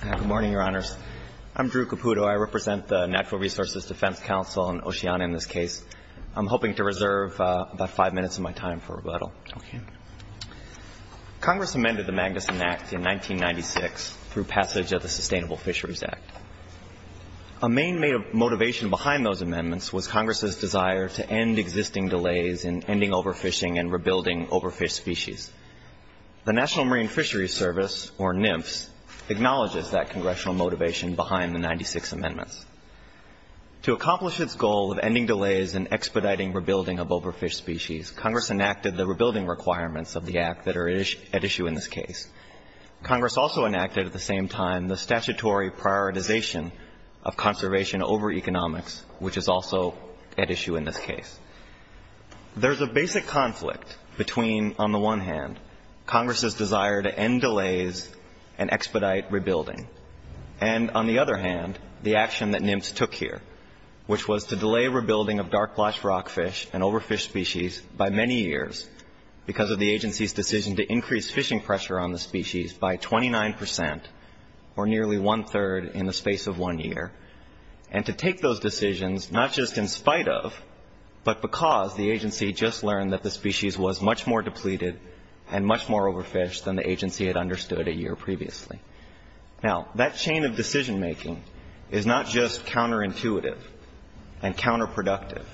Good morning, Your Honors. I'm Drew Caputo. I represent the Natural Resources Defense Council and Oceana in this case. I'm hoping to reserve about five minutes of my time for rebuttal. Congress amended the Magnuson Act in 1996 through passage of the Sustainable Fisheries Act. A main motivation behind those amendments was Congress's desire to end existing delays in ending overfishing and rebuilding overfished species. The National Marine Fisheries Service, or NMFS, acknowledges that congressional motivation behind the 96 amendments. To accomplish its goal of ending delays and expediting rebuilding of overfished species, Congress enacted the rebuilding requirements of the Act that are at issue in this case. Congress also enacted at the same time the statutory prioritization of conservation over economics, which is also at issue in this case. There's a basic conflict between, on the one hand, Congress's desire to end delays and expedite rebuilding, and on the other hand, the action that NMFS took here, which was to delay rebuilding of dark blotched rockfish and overfished species by many years because of the agency's decision to increase fishing pressure on the species by 29 percent, or nearly one-third in the space of one year, and to take those decisions not just in spite of, but because the agency just learned that the species was much more than the agency had understood a year previously. Now, that chain of decision-making is not just counterintuitive and counterproductive.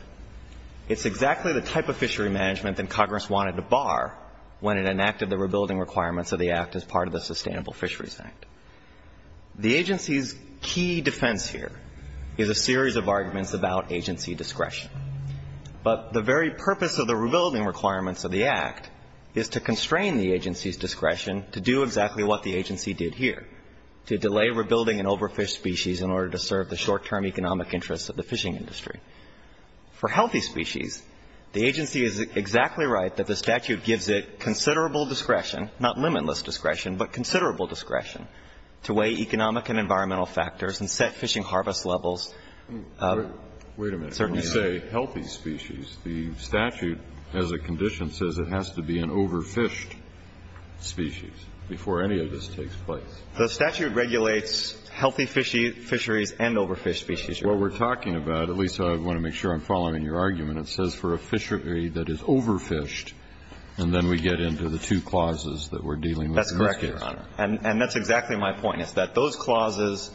It's exactly the type of fishery management that Congress wanted to bar when it enacted the rebuilding requirements of the Act as part of the Sustainable Fisheries Act. The agency's key defense here is a series of arguments about agency discretion. But the very purpose of the rebuilding requirements of the Act is to constrain the agency's discretion to do exactly what the agency did here, to delay rebuilding an overfished species in order to serve the short-term economic interests of the fishing industry. For healthy species, the agency is exactly right that the statute gives it considerable discretion, not limitless discretion, but considerable discretion, to weigh economic and environmental factors and set fishing harvest levels. Certainly. Wait a minute. When you say healthy species, the statute as a condition says it has to be an overfished species before any of this takes place. The statute regulates healthy fisheries and overfished species, Your Honor. Well, we're talking about, at least I want to make sure I'm following your argument, it says for a fishery that is overfished, and then we get into the two clauses that we're dealing with in this case. That's correct, Your Honor. And that's exactly my point, is that those clauses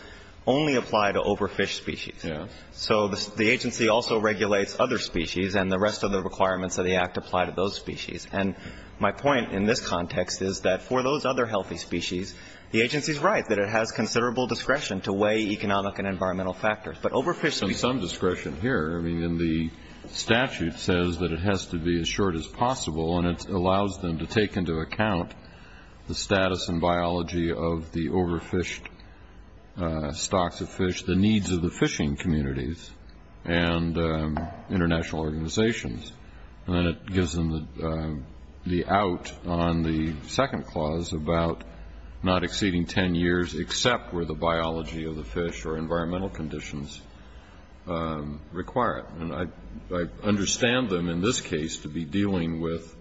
only apply to overfished species. Yes. So the agency also regulates other species, and the rest of the requirements of the Act apply to those species. And my point in this context is that for those other healthy species, the agency is right that it has considerable discretion to weigh economic and environmental factors. But overfished species Some discretion here. I mean, the statute says that it has to be as short as possible, and it allows them to take into account the status and biology of the overfished stocks of fish, the needs of the fishing communities and international organizations. And it gives them the out on the second clause about not exceeding 10 years except where the biology of the fish or environmental conditions require it. And I understand them in this case to be dealing with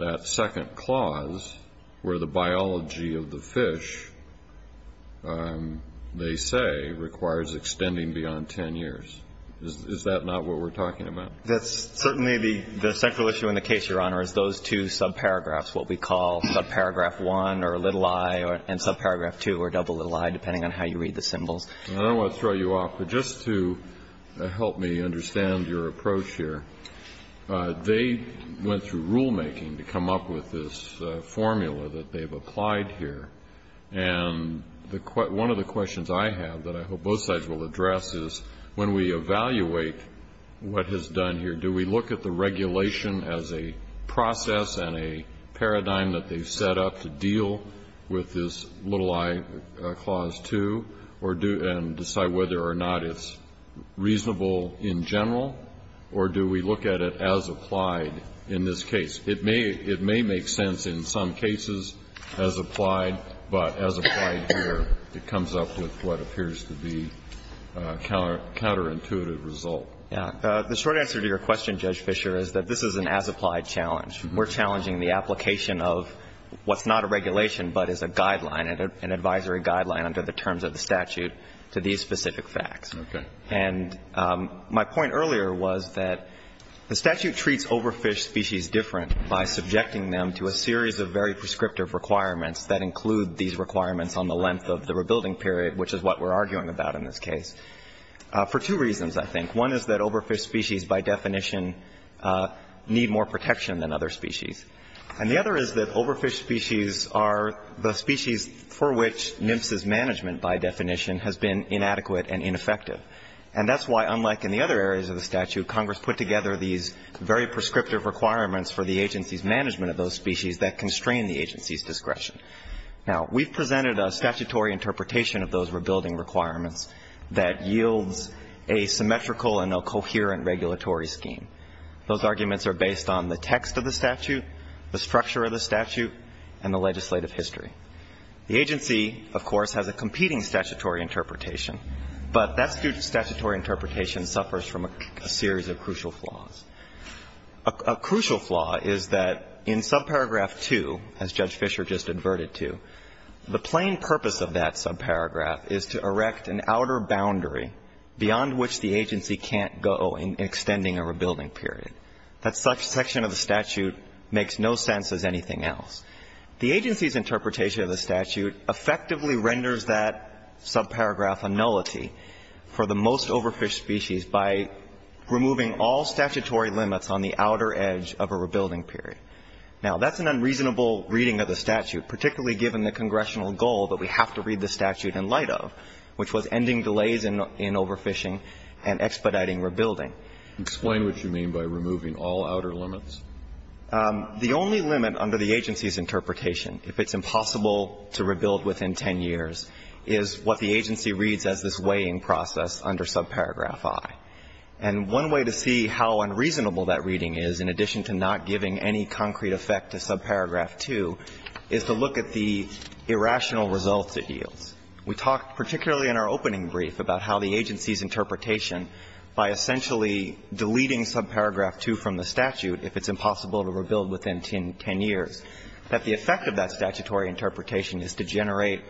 that second clause where the biology of the fish, they say, requires extending beyond 10 years. Is that not what we're talking about? That's certainly the central issue in the case, Your Honor, is those two subparagraphs, what we call subparagraph 1 or little i and subparagraph 2 or double little i, depending on how you read the symbols. And I don't want to throw you off, but just to help me understand your approach here, they went through rulemaking to come up with this formula that they've applied here. And one of the questions I have that I hope both sides will address is, when we evaluate what has done here, do we look at the regulation as a process and a paradigm that they've set up to deal with this little i, clause 2, and decide whether or not it's reasonable in general, or do we look at it as applied in this case? It may make sense in some cases as applied, but as applied here, it comes up with what appears to be a counterintuitive result. Yeah. The short answer to your question, Judge Fischer, is that this is an as-applied challenge. We're challenging the application of what's not a regulation, but is a guideline, an advisory guideline under the terms of the statute to these specific facts. Okay. And my point earlier was that the statute treats overfish species different by subjecting them to a series of very prescriptive requirements that include these requirements on the length of the rebuilding period, which is what we're arguing about in this case, for two reasons, I think. One is that overfish species, by definition, need more protection than other species. And the other is that overfish species are the species for which NMFS's management, by definition, has been inadequate and ineffective. And that's why, unlike in the other areas of the statute, Congress put together these very prescriptive requirements for the agency's management of those species that constrain the agency's discretion. Now, we've presented a statutory interpretation of those rebuilding requirements that yields a symmetrical and a coherent regulatory scheme. Those arguments are based on the text of the statute, the structure of the statute, and the legislative history. The agency, of course, has a competing statutory interpretation, but that statutory interpretation suffers from a series of crucial flaws. A crucial flaw is that in subparagraph 2, as Judge Fisher just adverted to, the plain purpose of that subparagraph is to erect an outer boundary beyond which the agency can't go in extending a rebuilding period. That section of the statute makes no sense as anything else. The agency's interpretation of the statute effectively renders that subparagraph a nullity for the most overfish species by removing all statutory limits on the outer edge of a rebuilding period. Now, that's an unreasonable reading of the statute, particularly given the congressional goal that we have to read the statute in light of, which was ending delays in overfishing and expediting rebuilding. Explain what you mean by removing all outer limits. The only limit under the agency's interpretation, if it's impossible to rebuild within 10 years, is what the agency reads as this weighing process under subparagraph I. And one way to see how unreasonable that reading is, in addition to not giving any concrete effect to subparagraph II, is to look at the irrational results it yields. We talked particularly in our opening brief about how the agency's interpretation, by essentially deleting subparagraph II from the statute, if it's impossible to rebuild within 10 years, that the effect of that statutory interpretation is to generate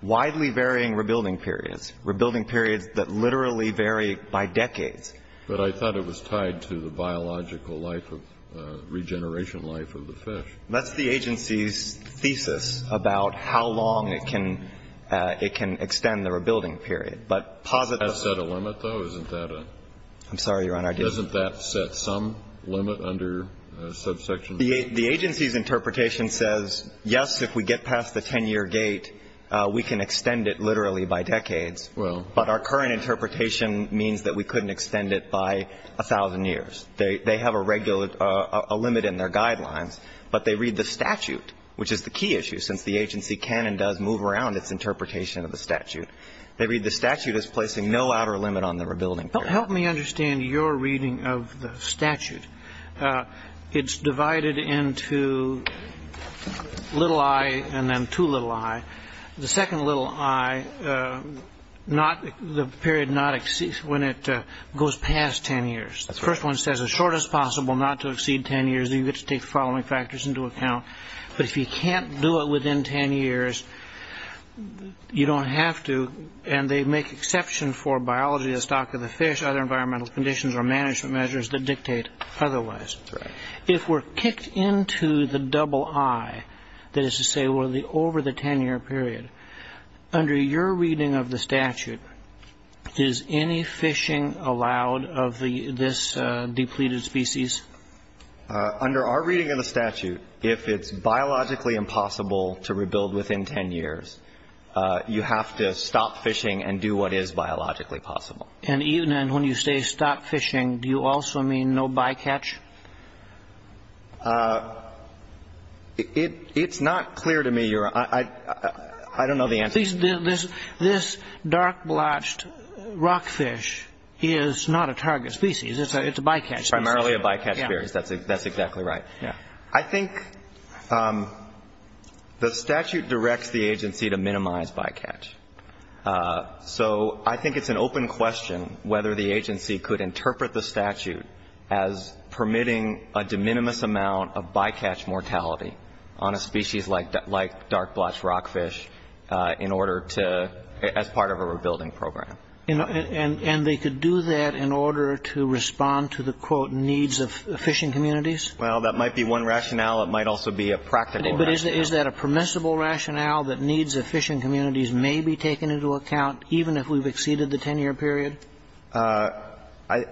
widely varying rebuilding periods, rebuilding periods that literally vary by decades. But I thought it was tied to the biological life of regeneration life of the fish. That's the agency's thesis about how long it can extend the rebuilding period. But positive. Does that set a limit, though? Isn't that a? I'm sorry, Your Honor. Doesn't that set some limit under subsection VIII? The agency's interpretation says, yes, if we get past the 10-year gate, we can extend it literally by decades. Well. But our current interpretation means that we couldn't extend it by 1,000 years. They have a limit in their guidelines, but they read the statute, which is the key issue, since the agency can and does move around its interpretation of the statute. They read the statute as placing no outer limit on the rebuilding period. Help me understand your reading of the statute. It's divided into little I and then two little I. The second little I, the period when it goes past 10 years. The first one says, as short as possible not to exceed 10 years. You get to take the following factors into account. But if you can't do it within 10 years, you don't have to. And they make exception for biology, the stock of the fish, other environmental conditions, or management measures that dictate otherwise. If we're kicked into the double I, that is to say we're over the 10-year period, under your reading of the statute, is any fishing allowed of this depleted species? Under our reading of the statute, if it's biologically impossible to rebuild within 10 years, you have to stop fishing and do what is biologically possible. And even then, when you say stop fishing, do you also mean no bycatch? It's not clear to me your, I don't know the answer to that. This dark blotched rockfish is not a target species. It's a bycatch species. Primarily a bycatch species, that's exactly right. I think the statute directs the agency to minimize bycatch. So I think it's an open question whether the agency could interpret the statute as permitting a de minimis amount of bycatch mortality on a species like dark blotched rockfish in order to, as part of a rebuilding program. And they could do that in order to respond to the, quote, needs of fishing communities? Well, that might be one rationale. It might also be a practical rationale. Is that a permissible rationale that needs of fishing communities may be taken into account, even if we've exceeded the 10 year period? I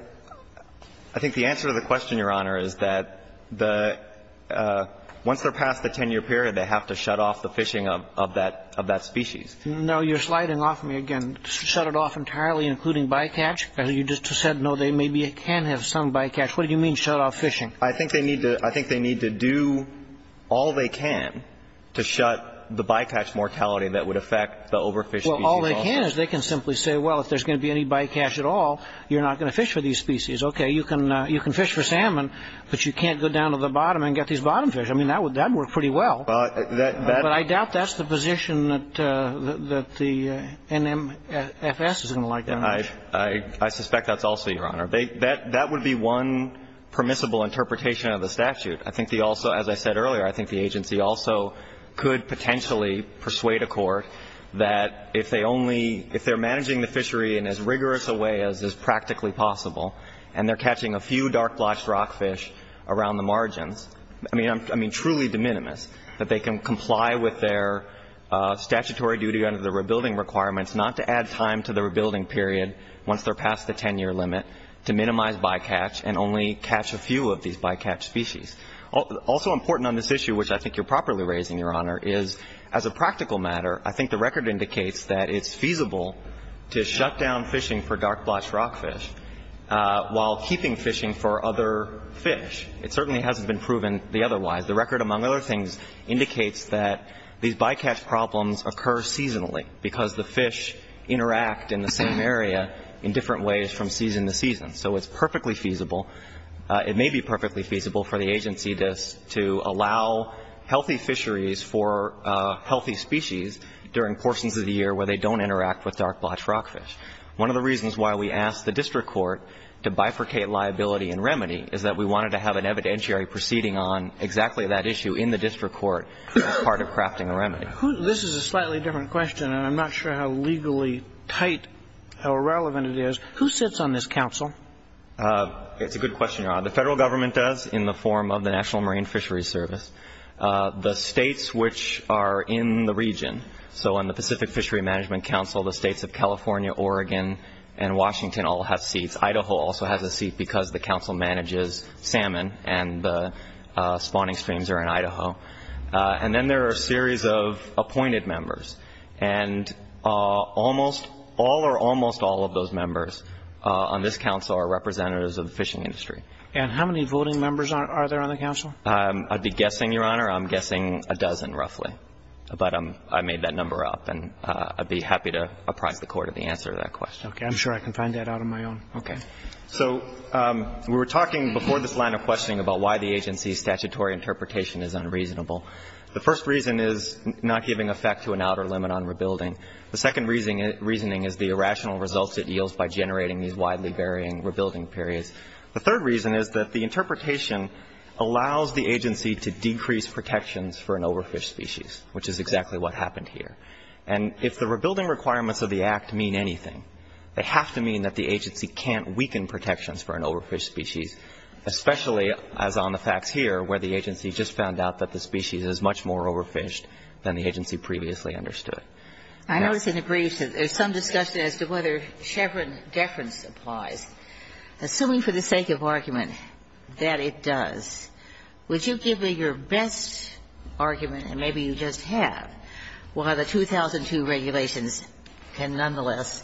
think the answer to the question, Your Honor, is that the, once they're past the 10 year period, they have to shut off the fishing of that species. No, you're sliding off me again. Shut it off entirely, including bycatch? You just said no, they maybe can have some bycatch. What do you mean shut off fishing? I think they need to do all they can to shut the bycatch mortality that would affect the overfished species also. Well, all they can is they can simply say, well, if there's going to be any bycatch at all, you're not going to fish for these species. Okay, you can fish for salmon, but you can't go down to the bottom and get these bottom fish. I mean, that would work pretty well. But I doubt that's the position that the NMFS is going to like that much. I suspect that's also, Your Honor. That would be one permissible interpretation of the statute. I think they also, as I said earlier, I think the agency also could potentially persuade a court that if they're managing the fishery in as rigorous a way as is practically possible, and they're catching a few dark blotched rockfish around the margins, I mean truly de minimis, that they can comply with their statutory duty under the rebuilding requirements not to add time to the to minimize bycatch and only catch a few of these bycatch species. Also important on this issue, which I think you're properly raising, Your Honor, is as a practical matter, I think the record indicates that it's feasible to shut down fishing for dark blotched rockfish while keeping fishing for other fish. It certainly hasn't been proven the otherwise. The record, among other things, indicates that these bycatch problems occur seasonally because the fish interact in the same area in different ways from season to season. So it's perfectly feasible, it may be perfectly feasible for the agency to allow healthy fisheries for healthy species during portions of the year where they don't interact with dark blotched rockfish. One of the reasons why we asked the district court to bifurcate liability and remedy is that we wanted to have an evidentiary proceeding on exactly that issue in the district court as part of crafting a remedy. This is a slightly different question, and I'm not sure how legally tight, how relevant it is. Who sits on this council? It's a good question, Your Honor. The federal government does in the form of the National Marine Fisheries Service. The states which are in the region, so in the Pacific Fishery Management Council, the states of California, Oregon, and Washington all have seats. Idaho also has a seat because the council manages salmon and the spawning streams are in Idaho. And then there are a series of appointed members. And almost all or almost all of those members on this council are representatives of the fishing industry. And how many voting members are there on the council? I'd be guessing, Your Honor, I'm guessing a dozen, roughly. But I made that number up, and I'd be happy to apprise the court of the answer to that question. Okay, I'm sure I can find that out on my own. Okay. So we were talking before this line of questioning about why the agency's statutory interpretation is unreasonable. The first reason is not giving effect to an outer limit on rebuilding. The second reasoning is the irrational results it yields by generating these widely varying rebuilding periods. The third reason is that the interpretation allows the agency to decrease protections for an overfish species, which is exactly what happened here. And if the rebuilding requirements of the act mean anything, they have to mean that the agency can't weaken protections for an overfish species. Especially as on the facts here, where the agency just found out that the species is much more overfished than the agency previously understood. I noticed in the briefs that there's some discussion as to whether Chevron deference applies. Assuming for the sake of argument that it does, would you give me your best argument, and maybe you just have, why the 2002 regulations can nonetheless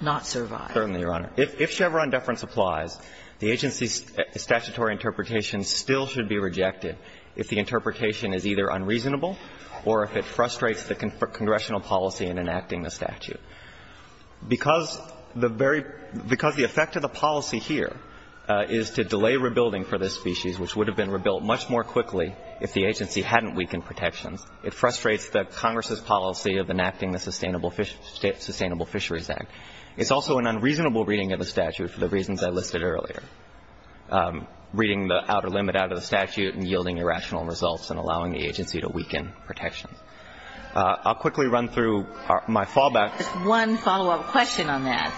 not survive? Certainly, Your Honor. If Chevron deference applies, the agency's statutory interpretation still should be rejected if the interpretation is either unreasonable or if it frustrates the congressional policy in enacting the statute. Because the very – because the effect of the policy here is to delay rebuilding for this species, which would have been rebuilt much more quickly if the agency hadn't weakened protections, it frustrates the Congress's policy of enacting the Sustainable Fisheries Act. It's also an unreasonable reading of the statute for the reasons I listed earlier. Reading the outer limit out of the statute and yielding irrational results and allowing the agency to weaken protections. I'll quickly run through my fallback. Just one follow-up question on that.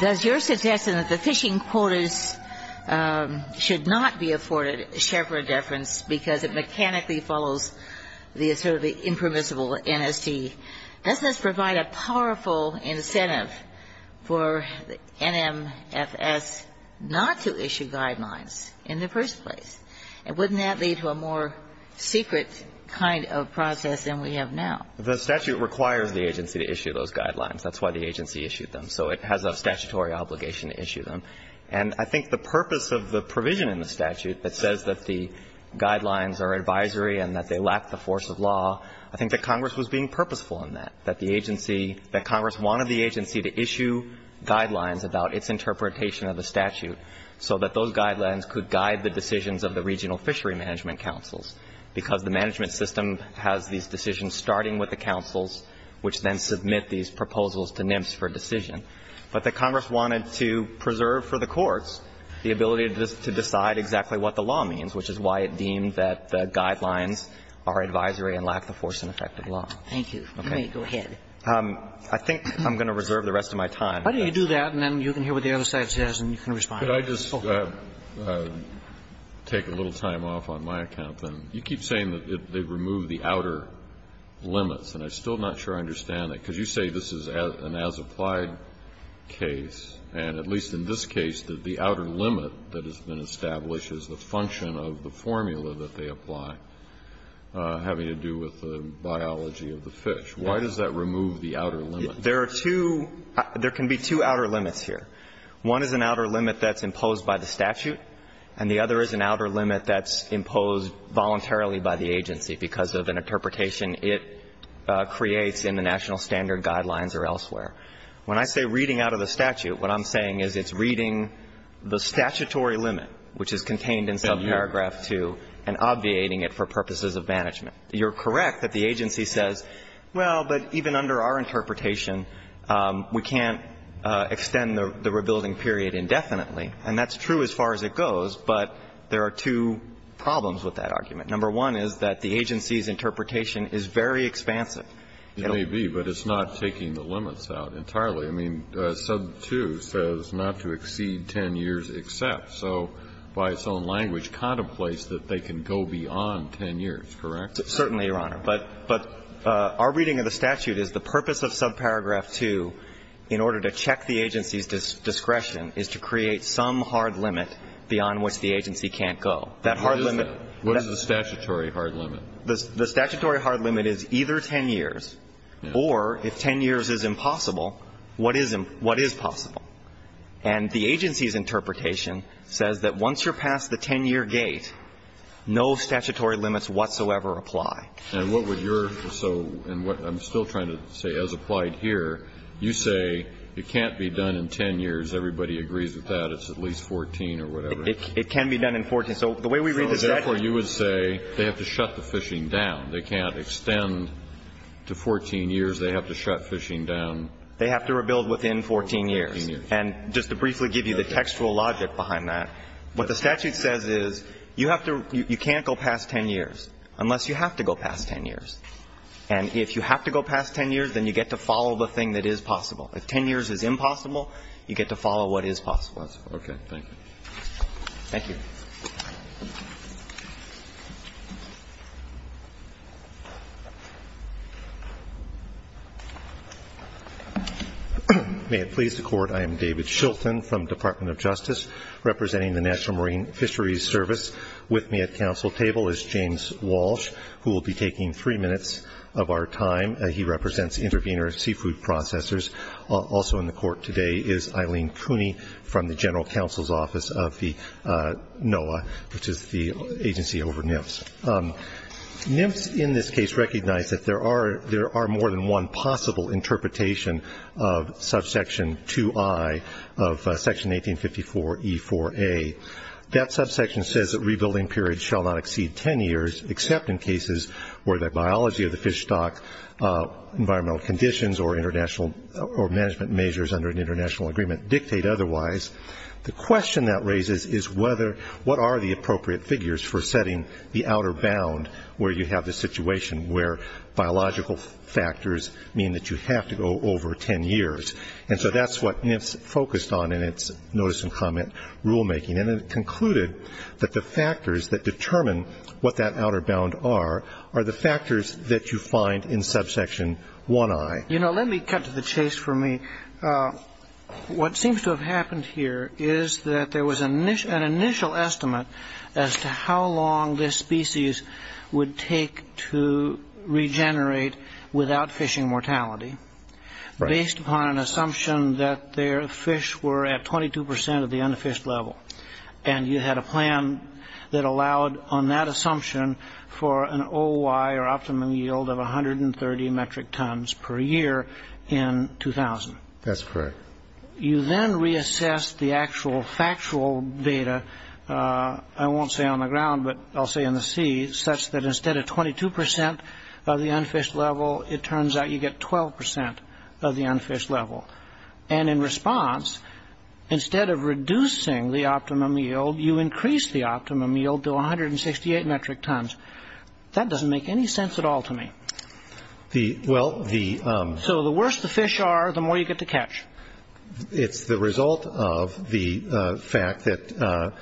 Does your suggestion that the fishing quotas should not be afforded Chevron deference because it mechanically follows the sort of the impermissible NST, doesn't this provide a powerful incentive for NMFS not to issue guidelines in the first place? And wouldn't that lead to a more secret kind of process than we have now? The statute requires the agency to issue those guidelines. That's why the agency issued them. So it has a statutory obligation to issue them. And I think the purpose of the provision in the statute that says that the guidelines are advisory and that they lack the force of law, I think that Congress was being purposeful in that, that the agency, that Congress wanted the agency to issue guidelines about its interpretation of the statute so that those guidelines could guide the decisions of the regional fishery management councils. Because the management system has these decisions starting with the councils, which then submit these proposals to NMFS for decision. But the Congress wanted to preserve for the courts the ability to decide exactly what the law means, which is why it deemed that the guidelines are advisory and lack the force and effect of law. Thank you. Okay. Go ahead. I think I'm going to reserve the rest of my time. Why don't you do that, and then you can hear what the other side says, and you can respond. Could I just take a little time off on my account, then? You keep saying that they remove the outer limits, and I'm still not sure I understand that. Because you say this is an as-applied case, and at least in this case, that the outer limit establishes the function of the formula that they apply, having to do with the biology of the fish. Why does that remove the outer limit? There are two — there can be two outer limits here. One is an outer limit that's imposed by the statute, and the other is an outer limit that's imposed voluntarily by the agency because of an interpretation it creates in the National Standard guidelines or elsewhere. When I say reading out of the statute, what I'm saying is it's reading the statutory limit, which is contained in subparagraph 2, and obviating it for purposes of management. You're correct that the agency says, well, but even under our interpretation, we can't extend the rebuilding period indefinitely. And that's true as far as it goes, but there are two problems with that argument. Number one is that the agency's interpretation is very expansive. It may be, but it's not taking the limits out entirely. I mean, sub 2 says not to exceed 10 years except. So by its own language, contemplates that they can go beyond 10 years, correct? Certainly, Your Honor. But our reading of the statute is the purpose of subparagraph 2 in order to check the agency's discretion is to create some hard limit beyond which the agency can't go. That hard limit — What is the statutory hard limit? The statutory hard limit is either 10 years, or if 10 years is impossible, what is possible? And the agency's interpretation says that once you're past the 10-year gate, no statutory limits whatsoever apply. And what would your — so, and what I'm still trying to say as applied here, you say it can't be done in 10 years, everybody agrees with that, it's at least 14 or whatever. It can be done in 14. So the way we read the statute — Well, they can't shut the fishing down. They can't extend to 14 years. They have to shut fishing down. They have to rebuild within 14 years. And just to briefly give you the textual logic behind that, what the statute says is you have to — you can't go past 10 years unless you have to go past 10 years. And if you have to go past 10 years, then you get to follow the thing that is possible. If 10 years is impossible, you get to follow what is possible. Okay, thank you. Thank you. May it please the Court, I am David Shilton from the Department of Justice representing the National Marine Fisheries Service. With me at council table is James Walsh, who will be taking three minutes of our time. He represents intervener seafood processors. Also in the Court today is Eileen Cooney from the General Counsel's Office of the NOAA, which is the agency over NIFS. NIFS in this case recognized that there are more than one possible interpretation of subsection 2i of section 1854 E4a. That subsection says that rebuilding periods shall not exceed 10 years, except in cases where the biology of the fish stock, environmental conditions, or international — or management measures under an international agreement dictate otherwise. The question that raises is whether — what are the appropriate figures for setting the outer bound where you have the situation where biological factors mean that you have to go over 10 years. And so that's what NIFS focused on in its notice and comment rulemaking. And it concluded that the factors that determine what that outer bound are are the factors that you find in subsection 1i. You know, let me cut to the chase for me. What seems to have happened here is that there was an initial estimate as to how long this species would take to regenerate without fishing mortality based upon an assumption that their fish stock was at the unfished level. And you had a plan that allowed on that assumption for an OY, or optimum yield, of 130 metric tons per year in 2000. That's correct. You then reassessed the actual factual data — I won't say on the ground, but I'll say in the sea — such that instead of 22 percent of the unfished level, it turns out you get 12 percent of the unfished level. And in response, instead of reducing the optimum yield, you increase the optimum yield to 168 metric tons. That doesn't make any sense at all to me. So the worse the fish are, the more you get to catch. It's the result of the fact that,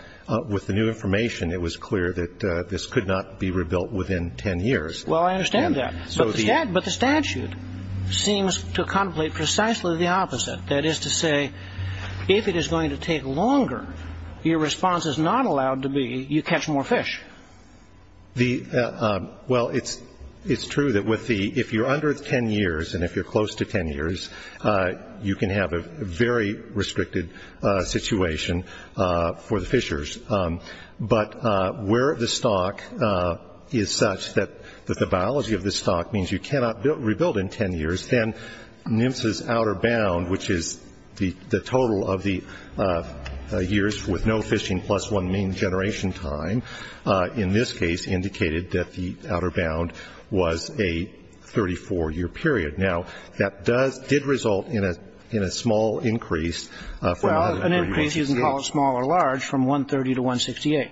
with the new information, it was clear that this could not be rebuilt within 10 years. Well, I understand that. But the statute seems to contemplate precisely the opposite. That is to say, if it is going to take longer, your response is not allowed to be, you catch more fish. Well, it's true that if you're under 10 years, and if you're close to 10 years, you can have a very restricted situation for the fishers. But where the stock is such that the biology of the stock means you cannot rebuild in 10 years, then NMFS's outer bound, which is the total of the years with no fishing plus one mean generation time, in this case, indicated that the outer bound was a 34-year period. Now, that did result in a small increase — Small increase, you can call it small or large, from 130 to 168.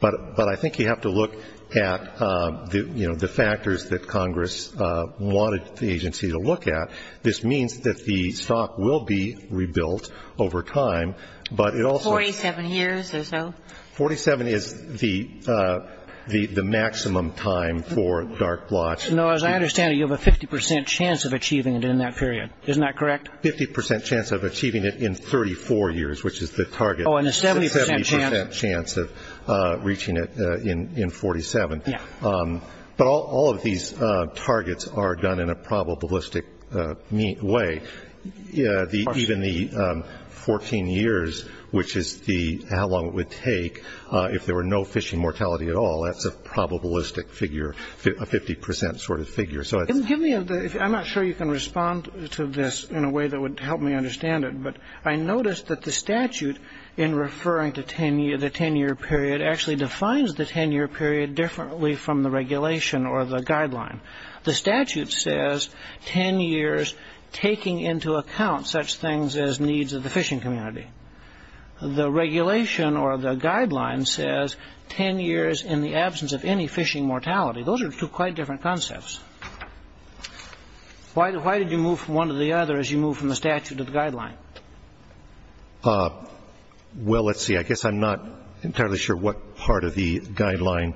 But I think you have to look at the factors that Congress wanted the agency to look at. This means that the stock will be rebuilt over time, but it also — 47 years or so? 47 is the maximum time for dark blotch. Now, as I understand it, you have a 50 percent chance of achieving it in that period. Isn't that correct? 50 percent chance of achieving it in 34 years, which is the target. Oh, and a 70 percent chance. A 70 percent chance of reaching it in 47. But all of these targets are done in a probabilistic way. Even the 14 years, which is how long it would take if there were no fishing mortality at all, that's a probabilistic figure, a 50 percent sort of figure. Give me a — I'm not sure you can respond to this in a way that would help me understand it, but I noticed that the statute, in referring to the 10-year period, actually defines the 10-year period differently from the regulation or the guideline. The statute says 10 years taking into account such things as needs of the fishing community. The regulation or the guideline says 10 years in the absence of any fishing mortality. Those are two quite different concepts. Why did you move from one to the other as you moved from the statute to the guideline? Well, let's see. I guess I'm not entirely sure what part of the guideline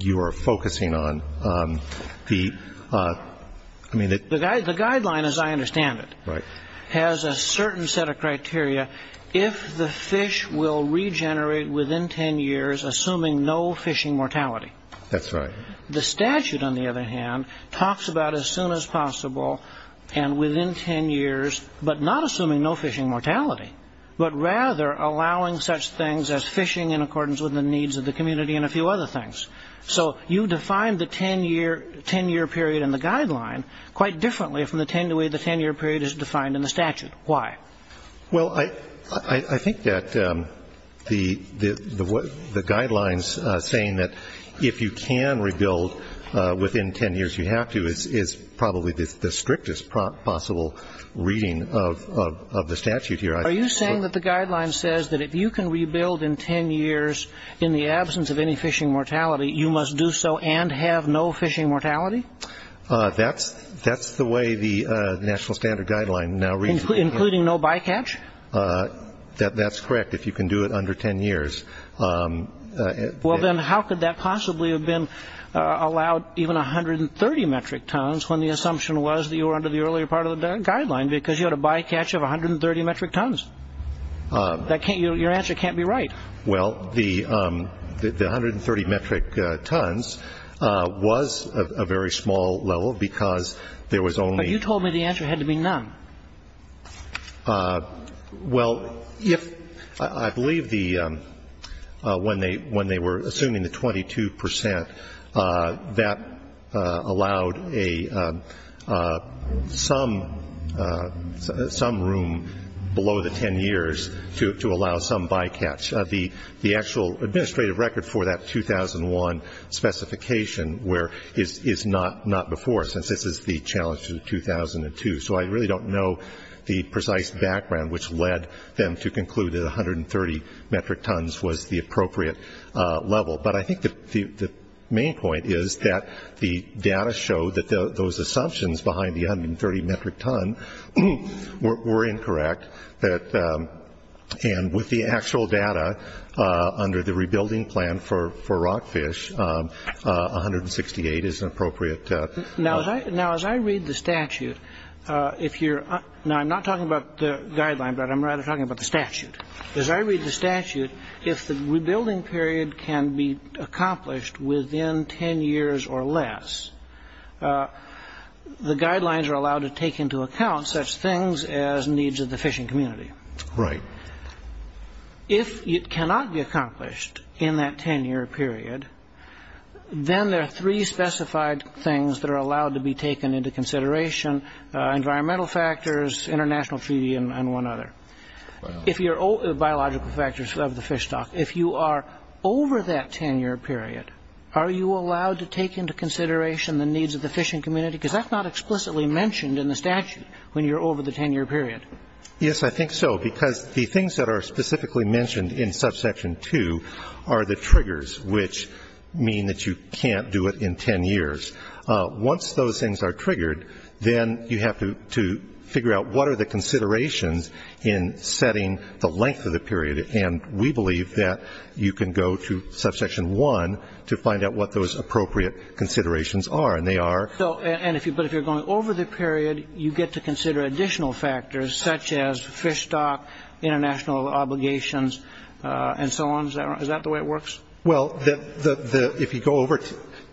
you are focusing on. The — I mean — The guideline, as I understand it — Right. — has a certain set of criteria if the fish will regenerate within 10 years, assuming no fishing mortality. That's right. The statute, on the other hand, talks about as soon as possible and within 10 years, but not assuming no fishing mortality, but rather allowing such things as fishing in accordance with the needs of the community and a few other things. So you define the 10-year period in the guideline quite differently from the way the 10-year period is defined in the statute. Why? Well, I think that the guidelines saying that if you can rebuild within 10 years, you have to is probably the strictest possible reading of the statute here. Are you saying that the guideline says that if you can rebuild in 10 years in the absence of any fishing mortality, you must do so and have no fishing mortality? That's the way the national standard guideline now reads. Including no bycatch? That's correct. If you can do it under 10 years — Well, then how could that possibly have been allowed even 130 metric tons when the assumption was that you were under the earlier part of the guideline because you had a bycatch of 130 metric tons? Your answer can't be right. Well, the 130 metric tons was a very small level because there was only — Well, if — I believe the — when they were assuming the 22 percent, that allowed a — some room below the 10 years to allow some bycatch. The actual administrative record for that 2001 specification where — is not before since this is the challenge to 2002. So I really don't know the precise background which led them to conclude that 130 metric tons was the appropriate level. But I think the main point is that the data showed that those assumptions behind the 130 metric ton were incorrect. And with the actual data under the rebuilding plan for rockfish, 168 is an appropriate level. Now, as I read the statute, if you're — now, I'm not talking about the guideline, but I'm rather talking about the statute. As I read the statute, if the rebuilding period can be accomplished within 10 years or less, the guidelines are allowed to take into account such things as needs of the fishing community. Right. If it cannot be accomplished in that 10-year period, then there are three specified things that are allowed to be taken into consideration, environmental factors, international treaty, and one other. Wow. If you're — biological factors of the fish stock. If you are over that 10-year period, are you allowed to take into consideration the needs of the fishing community? Because that's not explicitly mentioned in the statute when you're over the 10-year period. Yes, I think so, because the things that are specifically mentioned in subsection 2 are the triggers, which mean that you can't do it in 10 years. Once those things are triggered, then you have to figure out what are the considerations in setting the length of the period. And we believe that you can go to subsection 1 to find out what those appropriate considerations are. And they are — So — and if you're — but if you're going over the period, you get to consider additional factors such as fish stock, international obligations, and so on. Is that right? Is that the way it works? Well, the — if you go over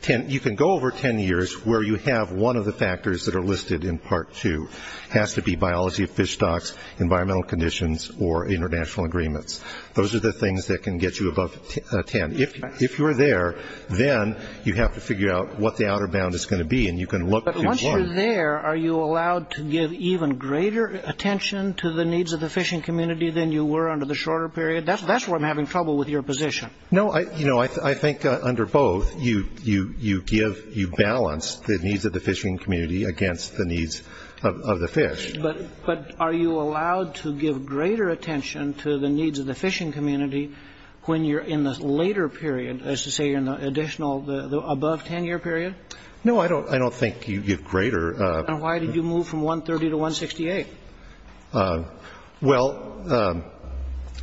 10 — you can go over 10 years where you have one of the factors that are listed in part 2. It has to be biology of fish stocks, environmental conditions, or international agreements. Those are the things that can get you above 10. If you're there, then you have to figure out what the outer bound is going to be, and you can look to — But once you're there, are you allowed to give even greater attention to the needs of the fishing community than you were under the shorter period? That's where I'm having trouble with your position. No. You know, I think under both, you give — you balance the needs of the fishing community against the needs of the fish. But are you allowed to give greater attention to the needs of the fishing community when you're in the later period, as to say you're in the additional — the above 10-year period? No, I don't think you give greater — And why did you move from 130 to 168? Well,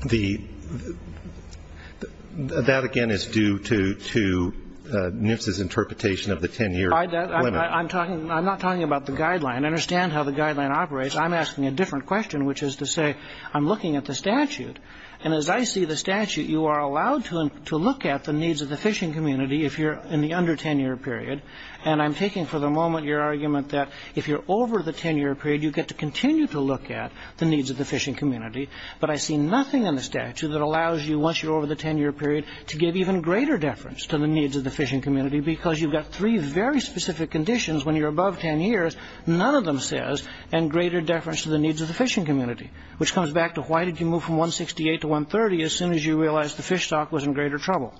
the — that, again, is due to NIFS's interpretation of the 10-year limit. I'm talking — I'm not talking about the guideline. Understand how the guideline operates. I'm asking a different question, which is to say I'm looking at the statute. And as I see the statute, you are allowed to look at the needs of the fishing community if you're in the under 10-year period. And I'm taking for the moment your argument that if you're over the 10-year period, you get to continue to look at the needs of the fishing community. But I see nothing in the statute that allows you, once you're over the 10-year period, to give even greater deference to the needs of the fishing community, because you've got three very specific conditions when you're above 10 years, none of them says, and greater deference to the needs of the fishing community. Which comes back to why did you move from 168 to 130 as soon as you realized the fish stock was in greater trouble?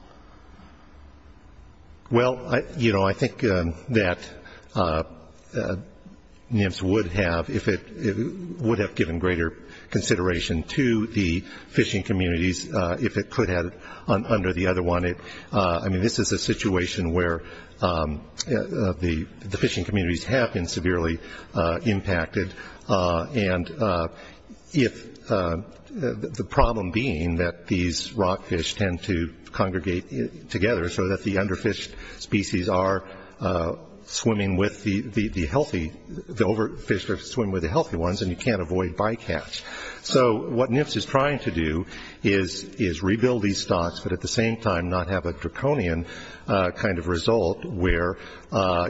Well, you know, I think that NIMS would have if it — would have given greater consideration to the fishing communities if it could have under the other one. I mean, this is a situation where the fishing communities have been severely impacted. And if — the problem being that these rockfish tend to congregate together so that the underfished species are swimming with the healthy — the overfished are swimming with the healthy ones and you can't avoid bycatch. So what NIMS is trying to do is rebuild these stocks, but at the same time not have a draconian kind of result where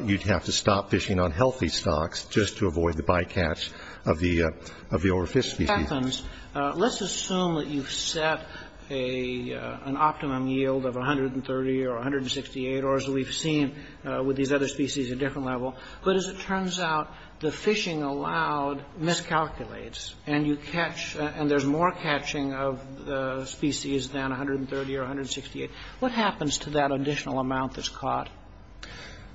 you'd have to stop fishing on healthy stocks just to avoid the bycatch of the overfished species. Let's assume that you've set an optimum yield of 130 or 168, or as we've seen with these other species, a different level, but as it turns out, the fishing allowed miscalculates and you catch — and there's more catching of species than 130 or 168. What happens to that additional amount that's caught?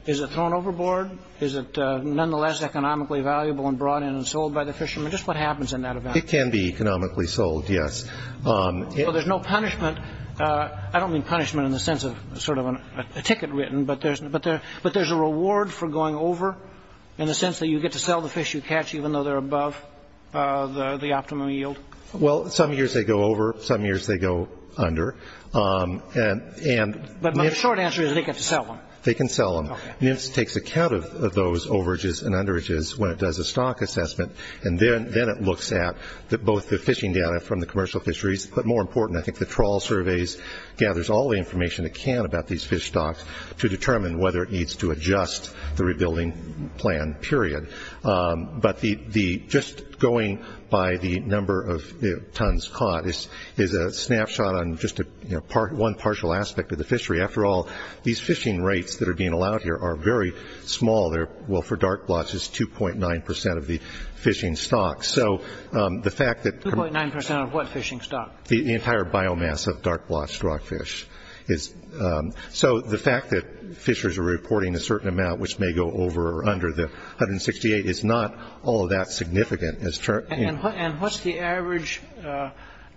Is it thrown overboard? Is it nonetheless economically valuable and brought in and sold by the fishermen? Just what happens in that event? It can be economically sold, yes. So there's no punishment — I don't mean punishment in the sense of sort of a ticket written, but there's a reward for going over in the sense that you get to sell the fish you catch even though they're above the optimum yield? Well, some years they go over, some years they go under. But my short answer is they get to sell them. They can sell them. NIMS takes account of those overages and underages when it does a stock assessment and then it looks at both the fishing data from the commercial fisheries, but more important, I think the trawl surveys gathers all the information it can about these fish stocks to determine whether it needs to adjust the rebuilding plan, period. But just going by the number of tons caught is a snapshot on just one partial aspect of the fishery. After all, these fishing rates that are being allowed here are very small. For dark blotch, it's 2.9 percent of the fishing stock. So the fact that — 2.9 percent of what fishing stock? The entire biomass of dark blotch rockfish. So the fact that fishers are reporting a certain amount which may go over or under the 168 is not all that significant. And what's the average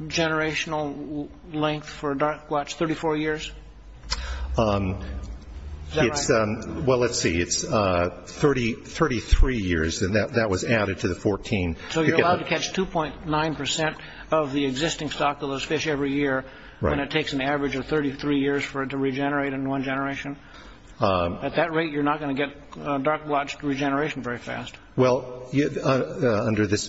generational length for dark blotch? 34 years? Is that right? Well, let's see, it's 33 years and that was added to the 14. So you're allowed to catch 2.9 percent of the existing stock of those fish every year and it takes an average of 33 years for it to regenerate in one generation. At that rate, you're not going to get dark blotch regeneration very fast. Well, under this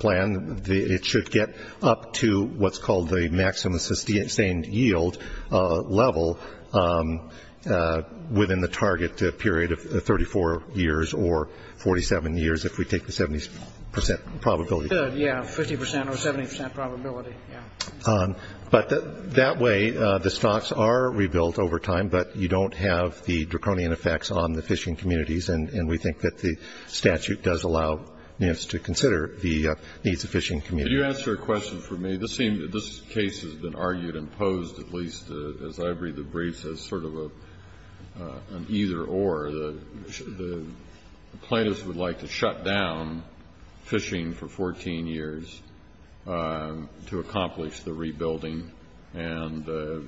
plan, it should get up to what's called the maximum sustained yield level within the target period of 34 years or 47 years if we take the 70 percent probability. It should, yeah, 50 percent or 70 percent probability, yeah. But that way, the stocks are rebuilt over time but you don't have the draconian effects on the fishing communities and we think that the statute does allow us to consider the needs of fishing communities. Could you answer a question for me? This case has been argued and posed at least as I read the briefs as sort of an either or. The plaintiffs would like to shut down fishing for 14 years to accomplish the rebuilding and the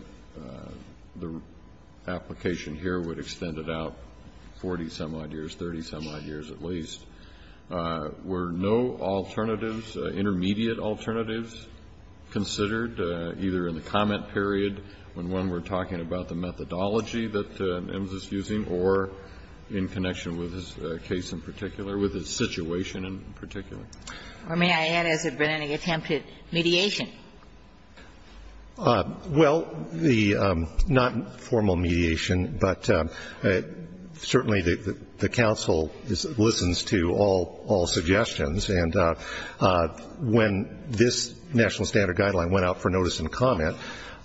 application here would extend it out 40 some odd years, 30 some odd years at least. Were no alternatives, intermediate alternatives considered either in the comment period when we're talking about the methodology that EMS is using or in connection with his case in particular, with his situation in particular? Or may I add, has there been any attempted mediation? Well, the not formal mediation, but certainly the counsel listens to all suggestions and when this national standard guideline went out for notice and comment,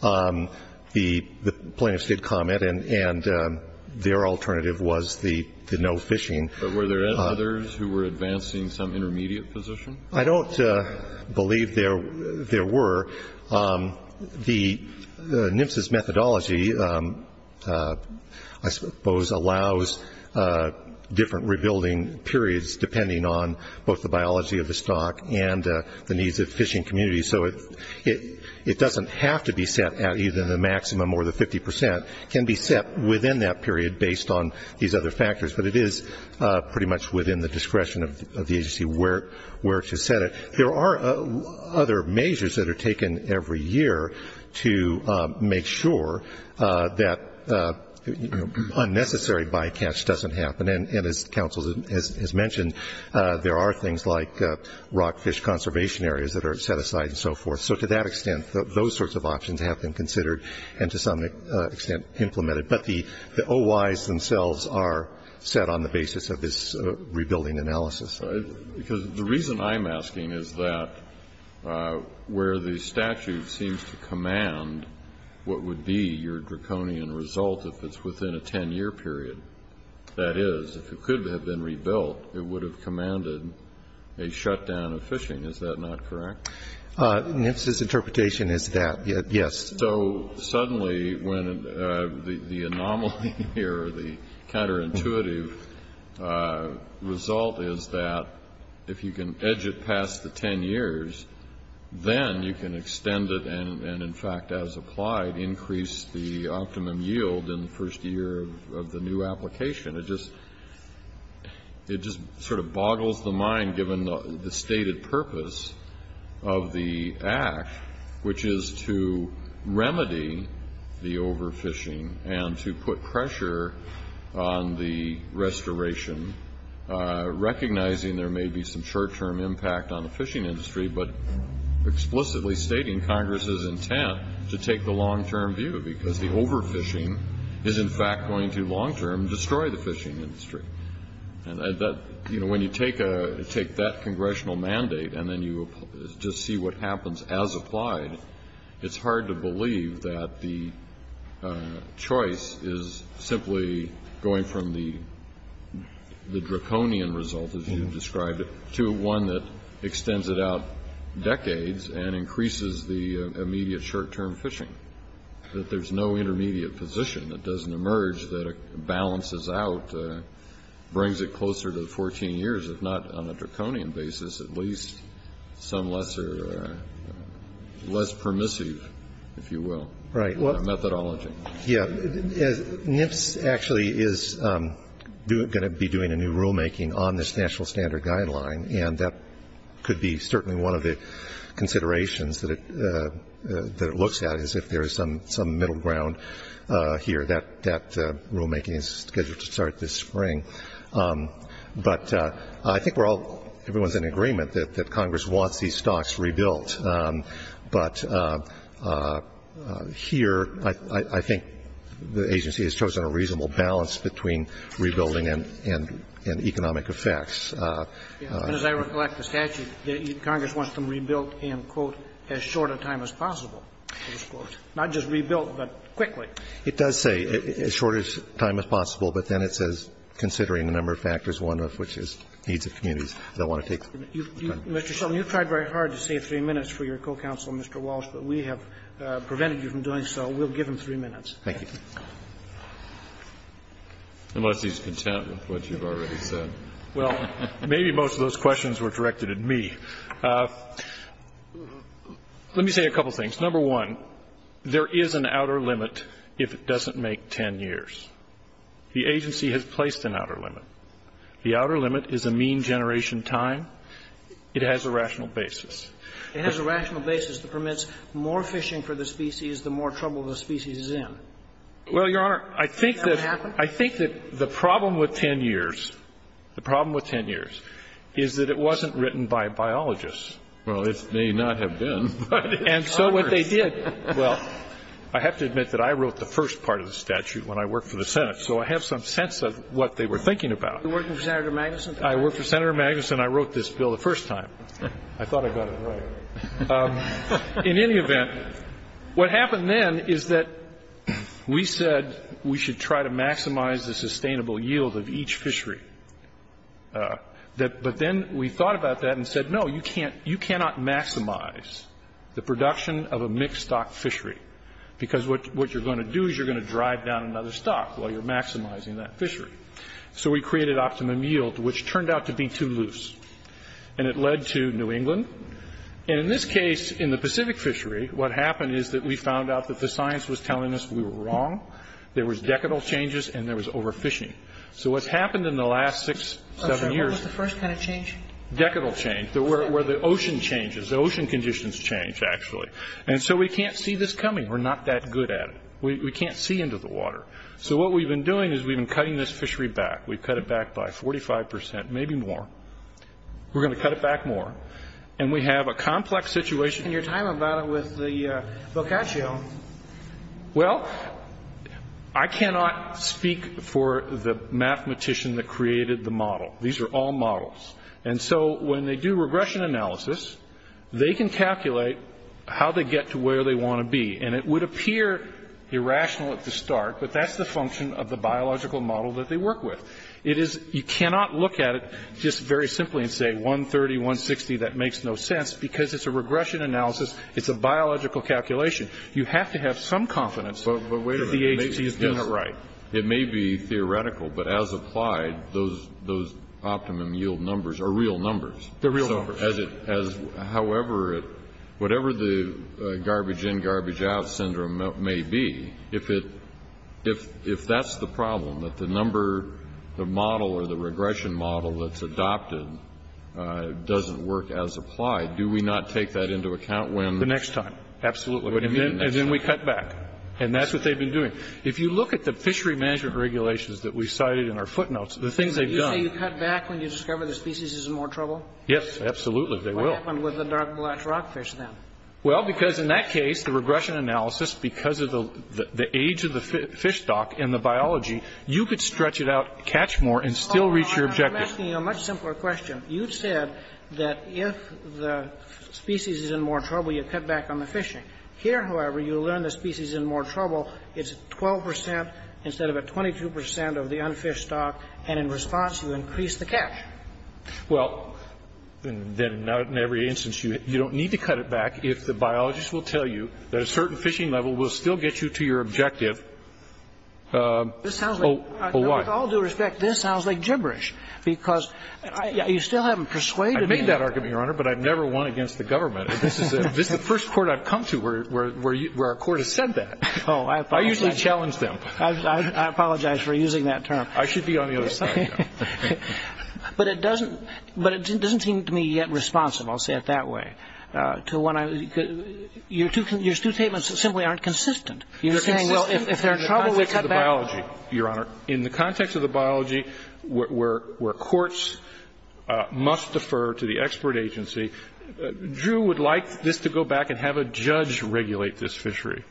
the plaintiffs did comment and their alternative was the no fishing. But were there others who were advancing some intermediate position? I don't believe there were. The NMFSS methodology, I suppose, allows different rebuilding periods depending on both the biology of the stock and the needs of the fishing community. So it doesn't have to be set at either the maximum or the 50 percent. It can be set within that period based on these other factors, but it is pretty much within the discretion of the agency where to set it. There are other measures that are taken every year to make sure that unnecessary bycatch doesn't happen. And as counsel has mentioned, there are things like rockfish conservation areas that are set aside and so forth. So to that extent, those sorts of options have been considered and to some extent implemented. But the OIs themselves are set on the basis of this rebuilding analysis. Because the reason I'm asking is that where the statute seems to command what would be your draconian result if it's within a 10-year period, that is, if it could have been rebuilt, it would have commanded a shutdown of fishing. Is that not correct? The NMFSS interpretation is that, yes. So suddenly when the anomaly here, the counterintuitive result is that if you can edge it past the 10 years, then you can extend it and, in fact, as applied, increase the optimum yield in the first year of the new application. It just sort of boggles the mind given the stated purpose of the act, which is to remedy the overfishing and to put pressure on the restoration, recognizing there may be some short-term impact on the fishing industry, but explicitly stating Congress's intent to take the long-term view because the overfishing is, in fact, going to long-term destroy the fishing industry. And that, you know, when you take that congressional mandate and then you just see what happens as applied, it's hard to believe that the choice is simply going from the draconian result, as you've described, to one that extends it out decades and increases the immediate short-term fishing, that there's no intermediate position that doesn't emerge that balances out, brings it closer to the 14 years, if not on a draconian basis, at least some lesser or less permissive, if you will, methodology. Yeah. NIFS actually is going to be doing a new rulemaking on this National Standard Guideline, and that could be certainly one of the considerations that it looks at is if there is some middle ground here. That rulemaking is scheduled to start this spring. But I think we're all, everyone's in agreement that Congress wants these stocks rebuilt. But here, I think the agency has chosen a reasonable balance between rebuilding and economic effects. And as I recollect the statute, Congress wants them rebuilt in, quote, as short a time as possible, close quote. Not just rebuilt, but quickly. It does say as short a time as possible, but then it says considering a number of factors, one of which is needs of communities that want to take the time. Mr. Shelton, you've tried very hard to save three minutes for your co-counsel Mr. Walsh, but we have prevented you from doing so. We'll give him three minutes. Thank you. Unless he's content with what you've already said. Well, maybe most of those questions were directed at me. Let me say a couple of things. Number one, there is an outer limit if it doesn't make 10 years. The agency has placed an outer limit. The outer limit is a mean generation time. It has a rational basis. It has a rational basis that permits more fishing for the species, the more trouble the species is in. Well, Your Honor, I think that the problem with 10 years, the problem with 10 years is that it wasn't written by biologists. Well, it may not have been. And so what they did, well, I have to admit that I wrote the first part of the statute when I worked for the Senate. So I have some sense of what they were thinking about. You worked for Senator Magnuson? I worked for Senator Magnuson. I wrote this bill the first time. I thought I got it right. In any event, what happened then is that we said we should try to maximize the sustainable yield of each fishery. But then we thought about that and said, no, you cannot maximize the production of a mixed stock fishery. Because what you're going to do is you're going to drive down another stock while you're maximizing that fishery. So we created optimum yield, which turned out to be too loose. And it led to New England. And in this case, in the Pacific fishery, what happened is that we found out that the science was telling us we were wrong. There was decadal changes, and there was overfishing. So what's happened in the last six, seven years. What was the first kind of change? Decadal change, where the ocean changes. The ocean conditions change, actually. And so we can't see this coming. We're not that good at it. We can't see into the water. So what we've been doing is we've been cutting this fishery back. We've cut it back by 45%, maybe more. We're going to cut it back more. And we have a complex situation. And you're talking about it with the Boccaccio. Well, I cannot speak for the mathematician that created the model. These are all models. And so when they do regression analysis, they can calculate how they get to where they want to be. And it would appear irrational at the start. But that's the function of the biological model that they work with. It is you cannot look at it just very simply and say 130, 160. That makes no sense. Because it's a regression analysis. It's a biological calculation. You have to have some confidence that the agency is doing it right. It may be theoretical, but as applied, those optimum yield numbers are real numbers. They're real numbers. However, whatever the garbage in, garbage out syndrome may be, if it that's the problem, that the number, the model, or the regression model that's adopted doesn't work as applied, do we not take that into account when? The next time. Absolutely. And then we cut back. And that's what they've been doing. If you look at the fishery management regulations that we cited in our footnotes, the things they've done. You say you cut back when you discover the species is in more trouble? Yes, absolutely. They will. What happened with the dark black rockfish then? Well, because in that case, the regression analysis, because of the age of the fish stock and the biology, you could stretch it out, catch more, and still reach your objective. I'm asking you a much simpler question. You've said that if the species is in more trouble, you cut back on the fishing. Here, however, you learn the species is in more trouble. It's 12 percent instead of a 22 percent of the unfished stock. And in response, you increase the catch. Well, then in every instance, you don't need to cut it back if the biologists will tell you that a certain fishing level will still get you to your objective. This sounds like, with all due respect, this sounds like gibberish. Because you still haven't persuaded me. I've made that argument, Your Honor, but I've never won against the government. This is the first court I've come to where a court has said that. I usually challenge them. I apologize for using that term. I should be on the other side. But it doesn't seem to me yet responsible, I'll say it that way, to when I Your two statements simply aren't consistent. You're saying, well, if they're in trouble, we cut back. In the context of the biology, Your Honor, in the context of the biology where courts must defer to the expert agency, Drew would like this to go back and have a judge regulate this fishery.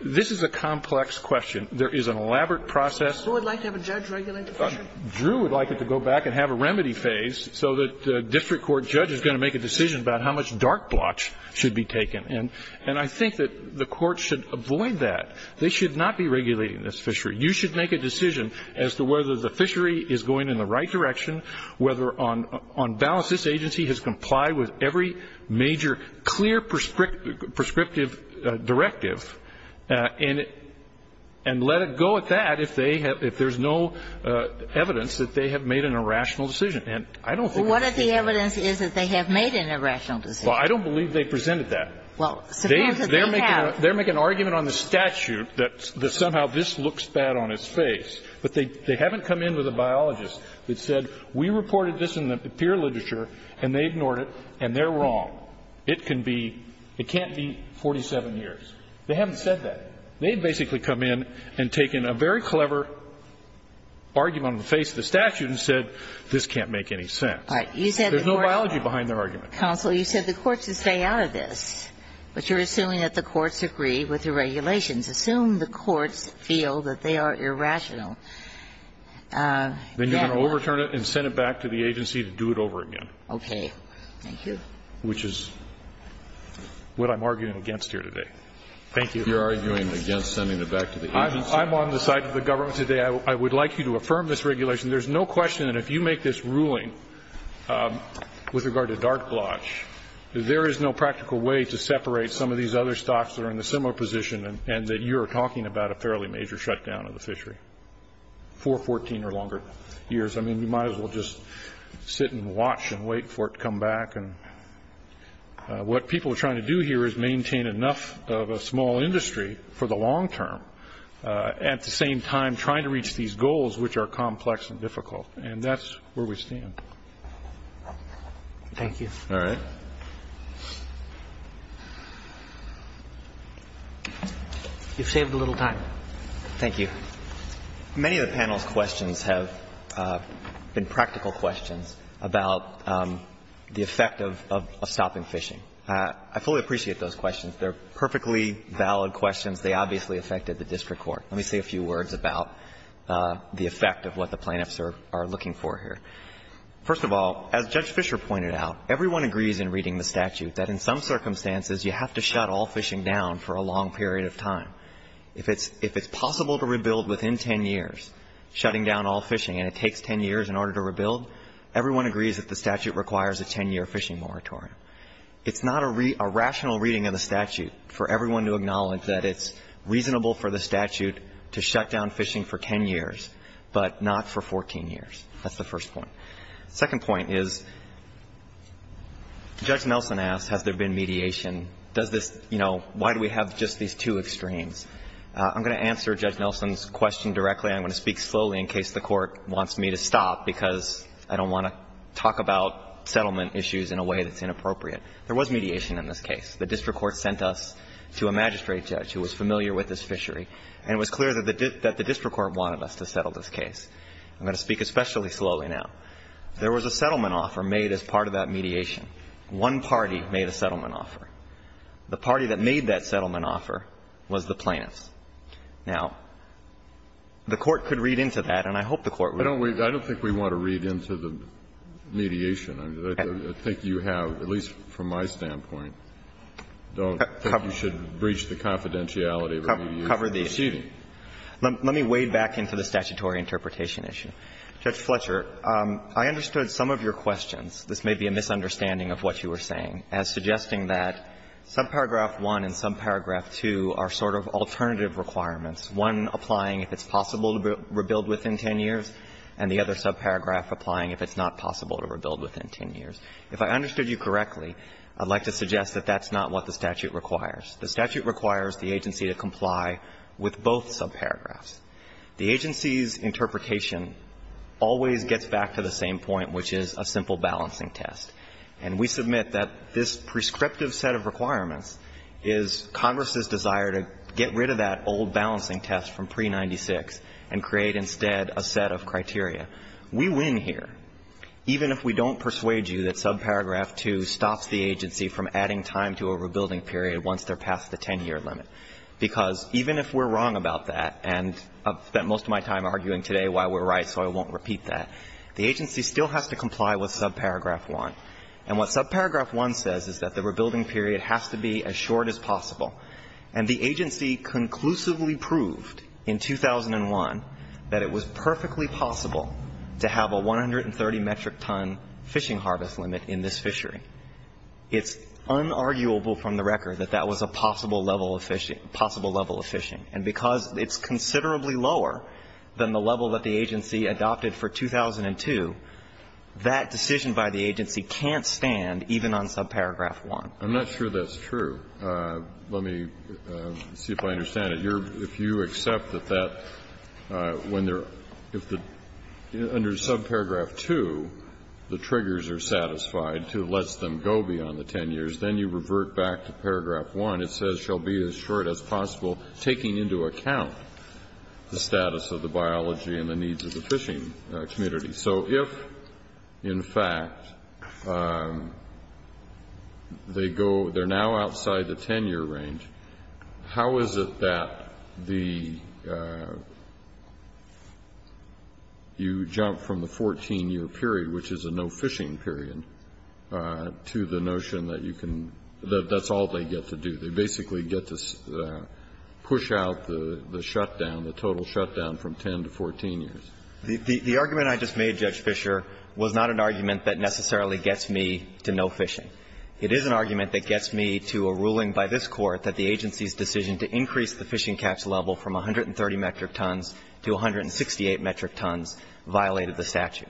This is a complex question. There is an elaborate process. Who would like to have a judge regulate the fishery? Drew would like it to go back and have a remedy phase so that the district court judge is going to make a decision about how much dark blotch should be taken. And I think that the court should avoid that. They should not be regulating this fishery. You should make a decision as to whether the fishery is going in the right direction, whether on balance this agency has complied with every major clear prescriptive directive, and let it go at that if there's no evidence that they have made an irrational decision. And I don't think that's the case. Ginsburg-Miller What if the evidence is that they have made an irrational decision? Kennedy Well, I don't believe they presented that. They're making an argument on the statute that somehow this looks bad on its face. But they haven't come in with a biologist that said we reported this in the peer literature, and they ignored it, and they're wrong. It can't be 47 years. They haven't said that. They basically come in and take in a very clever argument on the face of the statute and say this can't make any sense. There's no biology behind their argument. Ginsburg-Miller Counsel, you said the court should stay out of this, but you're assuming that the courts agree with the regulations. Assume the courts feel that they are irrational. Kennedy Then you're going to overturn it and send it back to the agency to do it over again. Ginsburg-Miller Okay. Thank you. Kennedy Which is what I'm arguing against here today. Thank you. Kennedy You're arguing against sending it back to the agency? Kennedy I'm on the side of the government today. I would like you to affirm this regulation. There's no question that if you make this ruling with regard to dark blotch, there is no practical way to separate some of these other stocks that are in a similar position and that you're talking about a fairly major shutdown of the fishery for 14 or longer years. I mean, you might as well just sit and watch and wait for it to come back. And what people are trying to do here is maintain enough of a small industry for the And that's where we stand. Roberts Thank you. Kennedy All right. Roberts You've saved a little time. Thank you. Many of the panel's questions have been practical questions about the effect of stopping fishing. I fully appreciate those questions. They are perfectly valid questions. They obviously affected the district court. Let me say a few words about the effect of what the plaintiffs are looking for here. First of all, as Judge Fischer pointed out, everyone agrees in reading the statute that in some circumstances you have to shut all fishing down for a long period of time. If it's possible to rebuild within 10 years, shutting down all fishing, and it takes 10 years in order to rebuild, everyone agrees that the statute requires a 10-year fishing moratorium. It's not a rational reading of the statute for everyone to acknowledge that it's reasonable for the statute to shut down fishing for 10 years, but not for 14 years. That's the first point. The second point is, Judge Nelson asked, has there been mediation? Does this, you know, why do we have just these two extremes? I'm going to answer Judge Nelson's question directly. I'm going to speak slowly in case the Court wants me to stop, because I don't want to talk about settlement issues in a way that's inappropriate. There was mediation in this case. The district court sent us to a magistrate judge who was familiar with this fishery, and it was clear that the district court wanted us to settle this case. I'm going to speak especially slowly now. There was a settlement offer made as part of that mediation. One party made a settlement offer. The party that made that settlement offer was the plaintiffs. Now, the Court could read into that, and I hope the Court would. I don't think we want to read into the mediation. I think you have, at least from my standpoint, don't think you should breach the confidentiality of who you're proceeding. Let me wade back into the statutory interpretation issue. Judge Fletcher, I understood some of your questions. This may be a misunderstanding of what you were saying, as suggesting that subparagraph 1 and subparagraph 2 are sort of alternative requirements, one applying if it's possible to rebuild within 10 years, and the other subparagraph applying if it's not possible to rebuild within 10 years. If I understood you correctly, I'd like to suggest that that's not what the statute requires. The statute requires the agency to comply with both subparagraphs. The agency's interpretation always gets back to the same point, which is a simple balancing test. And we submit that this prescriptive set of requirements is Congress's desire to get rid of that old balancing test from pre-'96 and create instead a set of criteria. We win here, even if we don't persuade you that subparagraph 2 stops the agency from adding time to a rebuilding period once they're past the 10-year limit, because even if we're wrong about that, and I've spent most of my time arguing today why we're right, so I won't repeat that, the agency still has to comply with subparagraph 1. And what subparagraph 1 says is that the rebuilding period has to be as short as possible. And the agency conclusively proved in 2001 that it was perfectly possible to have a 130-metric ton fishing harvest limit in this fishery. It's unarguable from the record that that was a possible level of fishing. And because it's considerably lower than the level that the agency adopted for 2002, that decision by the agency can't stand even on subparagraph 1. I'm not sure that's true. Let me see if I understand it. If you accept that that, when there, if the, under subparagraph 2, the triggers are satisfied to let them go beyond the 10 years, then you revert back to paragraph 1. It says, shall be as short as possible, taking into account the status of the biology and the needs of the fishing community. So if, in fact, they go, they're now outside the 10-year range, how is it that the you jump from the 14-year period, which is a no fishing period, to the notion that you can, that that's all they get to do. They basically get to push out the shutdown, the total shutdown from 10 to 14 years. The argument I just made, Judge Fischer, was not an argument that necessarily gets me to no fishing. It is an argument that gets me to a ruling by this Court that the agency's decision to increase the fishing catch level from 130 metric tons to 168 metric tons violated the statute.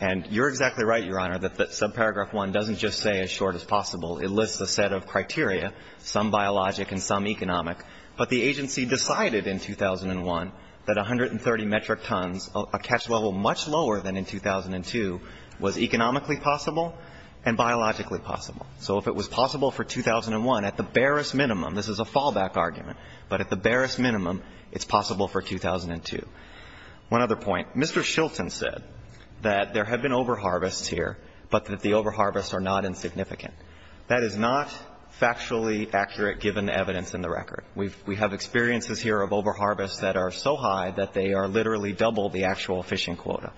And you're exactly right, Your Honor, that subparagraph 1 doesn't just say as short as possible. It lists a set of criteria, some biologic and some economic. But the agency decided in 2001 that 130 metric tons, a catch level much lower than in 2002, was economically possible and biologically possible. So if it was possible for 2001, at the barest minimum, this is a fallback argument, but at the barest minimum, it's possible for 2002. One other point. Mr. Shilton said that there have been overharvests here, but that the overharvests are not insignificant. That is not factually accurate, given the evidence in the record. We have experiences here of overharvests that are so high that they are literally double the actual fishing quota.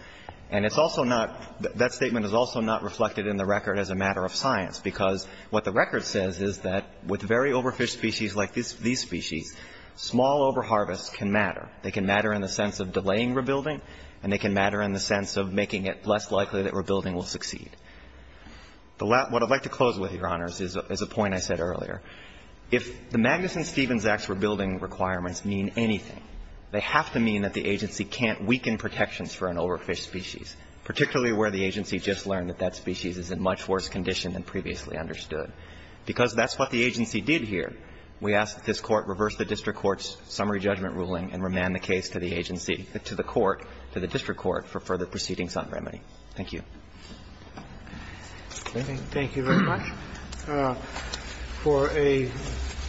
And it's also not, that statement is also not reflected in the record as a matter of science, because what the record says is that with very overfished species like these species, small overharvests can matter. They can matter in the sense of delaying rebuilding, and they can matter in the sense of making it less likely that rebuilding will succeed. What I'd like to close with, Your Honors, is a point I said earlier. If the Magnuson-Stevens Acts rebuilding requirements mean anything, they have to mean that the agency can't weaken protections for an overfished species, particularly where the agency just learned that that species is in much worse condition than previously understood. Because that's what the agency did here, we ask that this Court reverse the district court's summary judgment ruling and remand the case to the agency, to the court, to the district court, for further proceedings on remedy. Thank you. Thank you very much. For a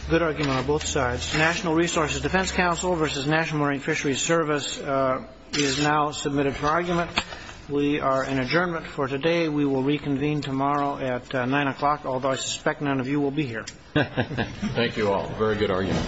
good argument on both sides, National Resources Defense Council versus National Marine Fisheries Service is now submitted for argument. We are in adjournment for today. We will reconvene tomorrow at 9 o'clock, although I suspect none of you will be here. Thank you all. Very good argument. Thank you. Thank you. Thank you. Thank you.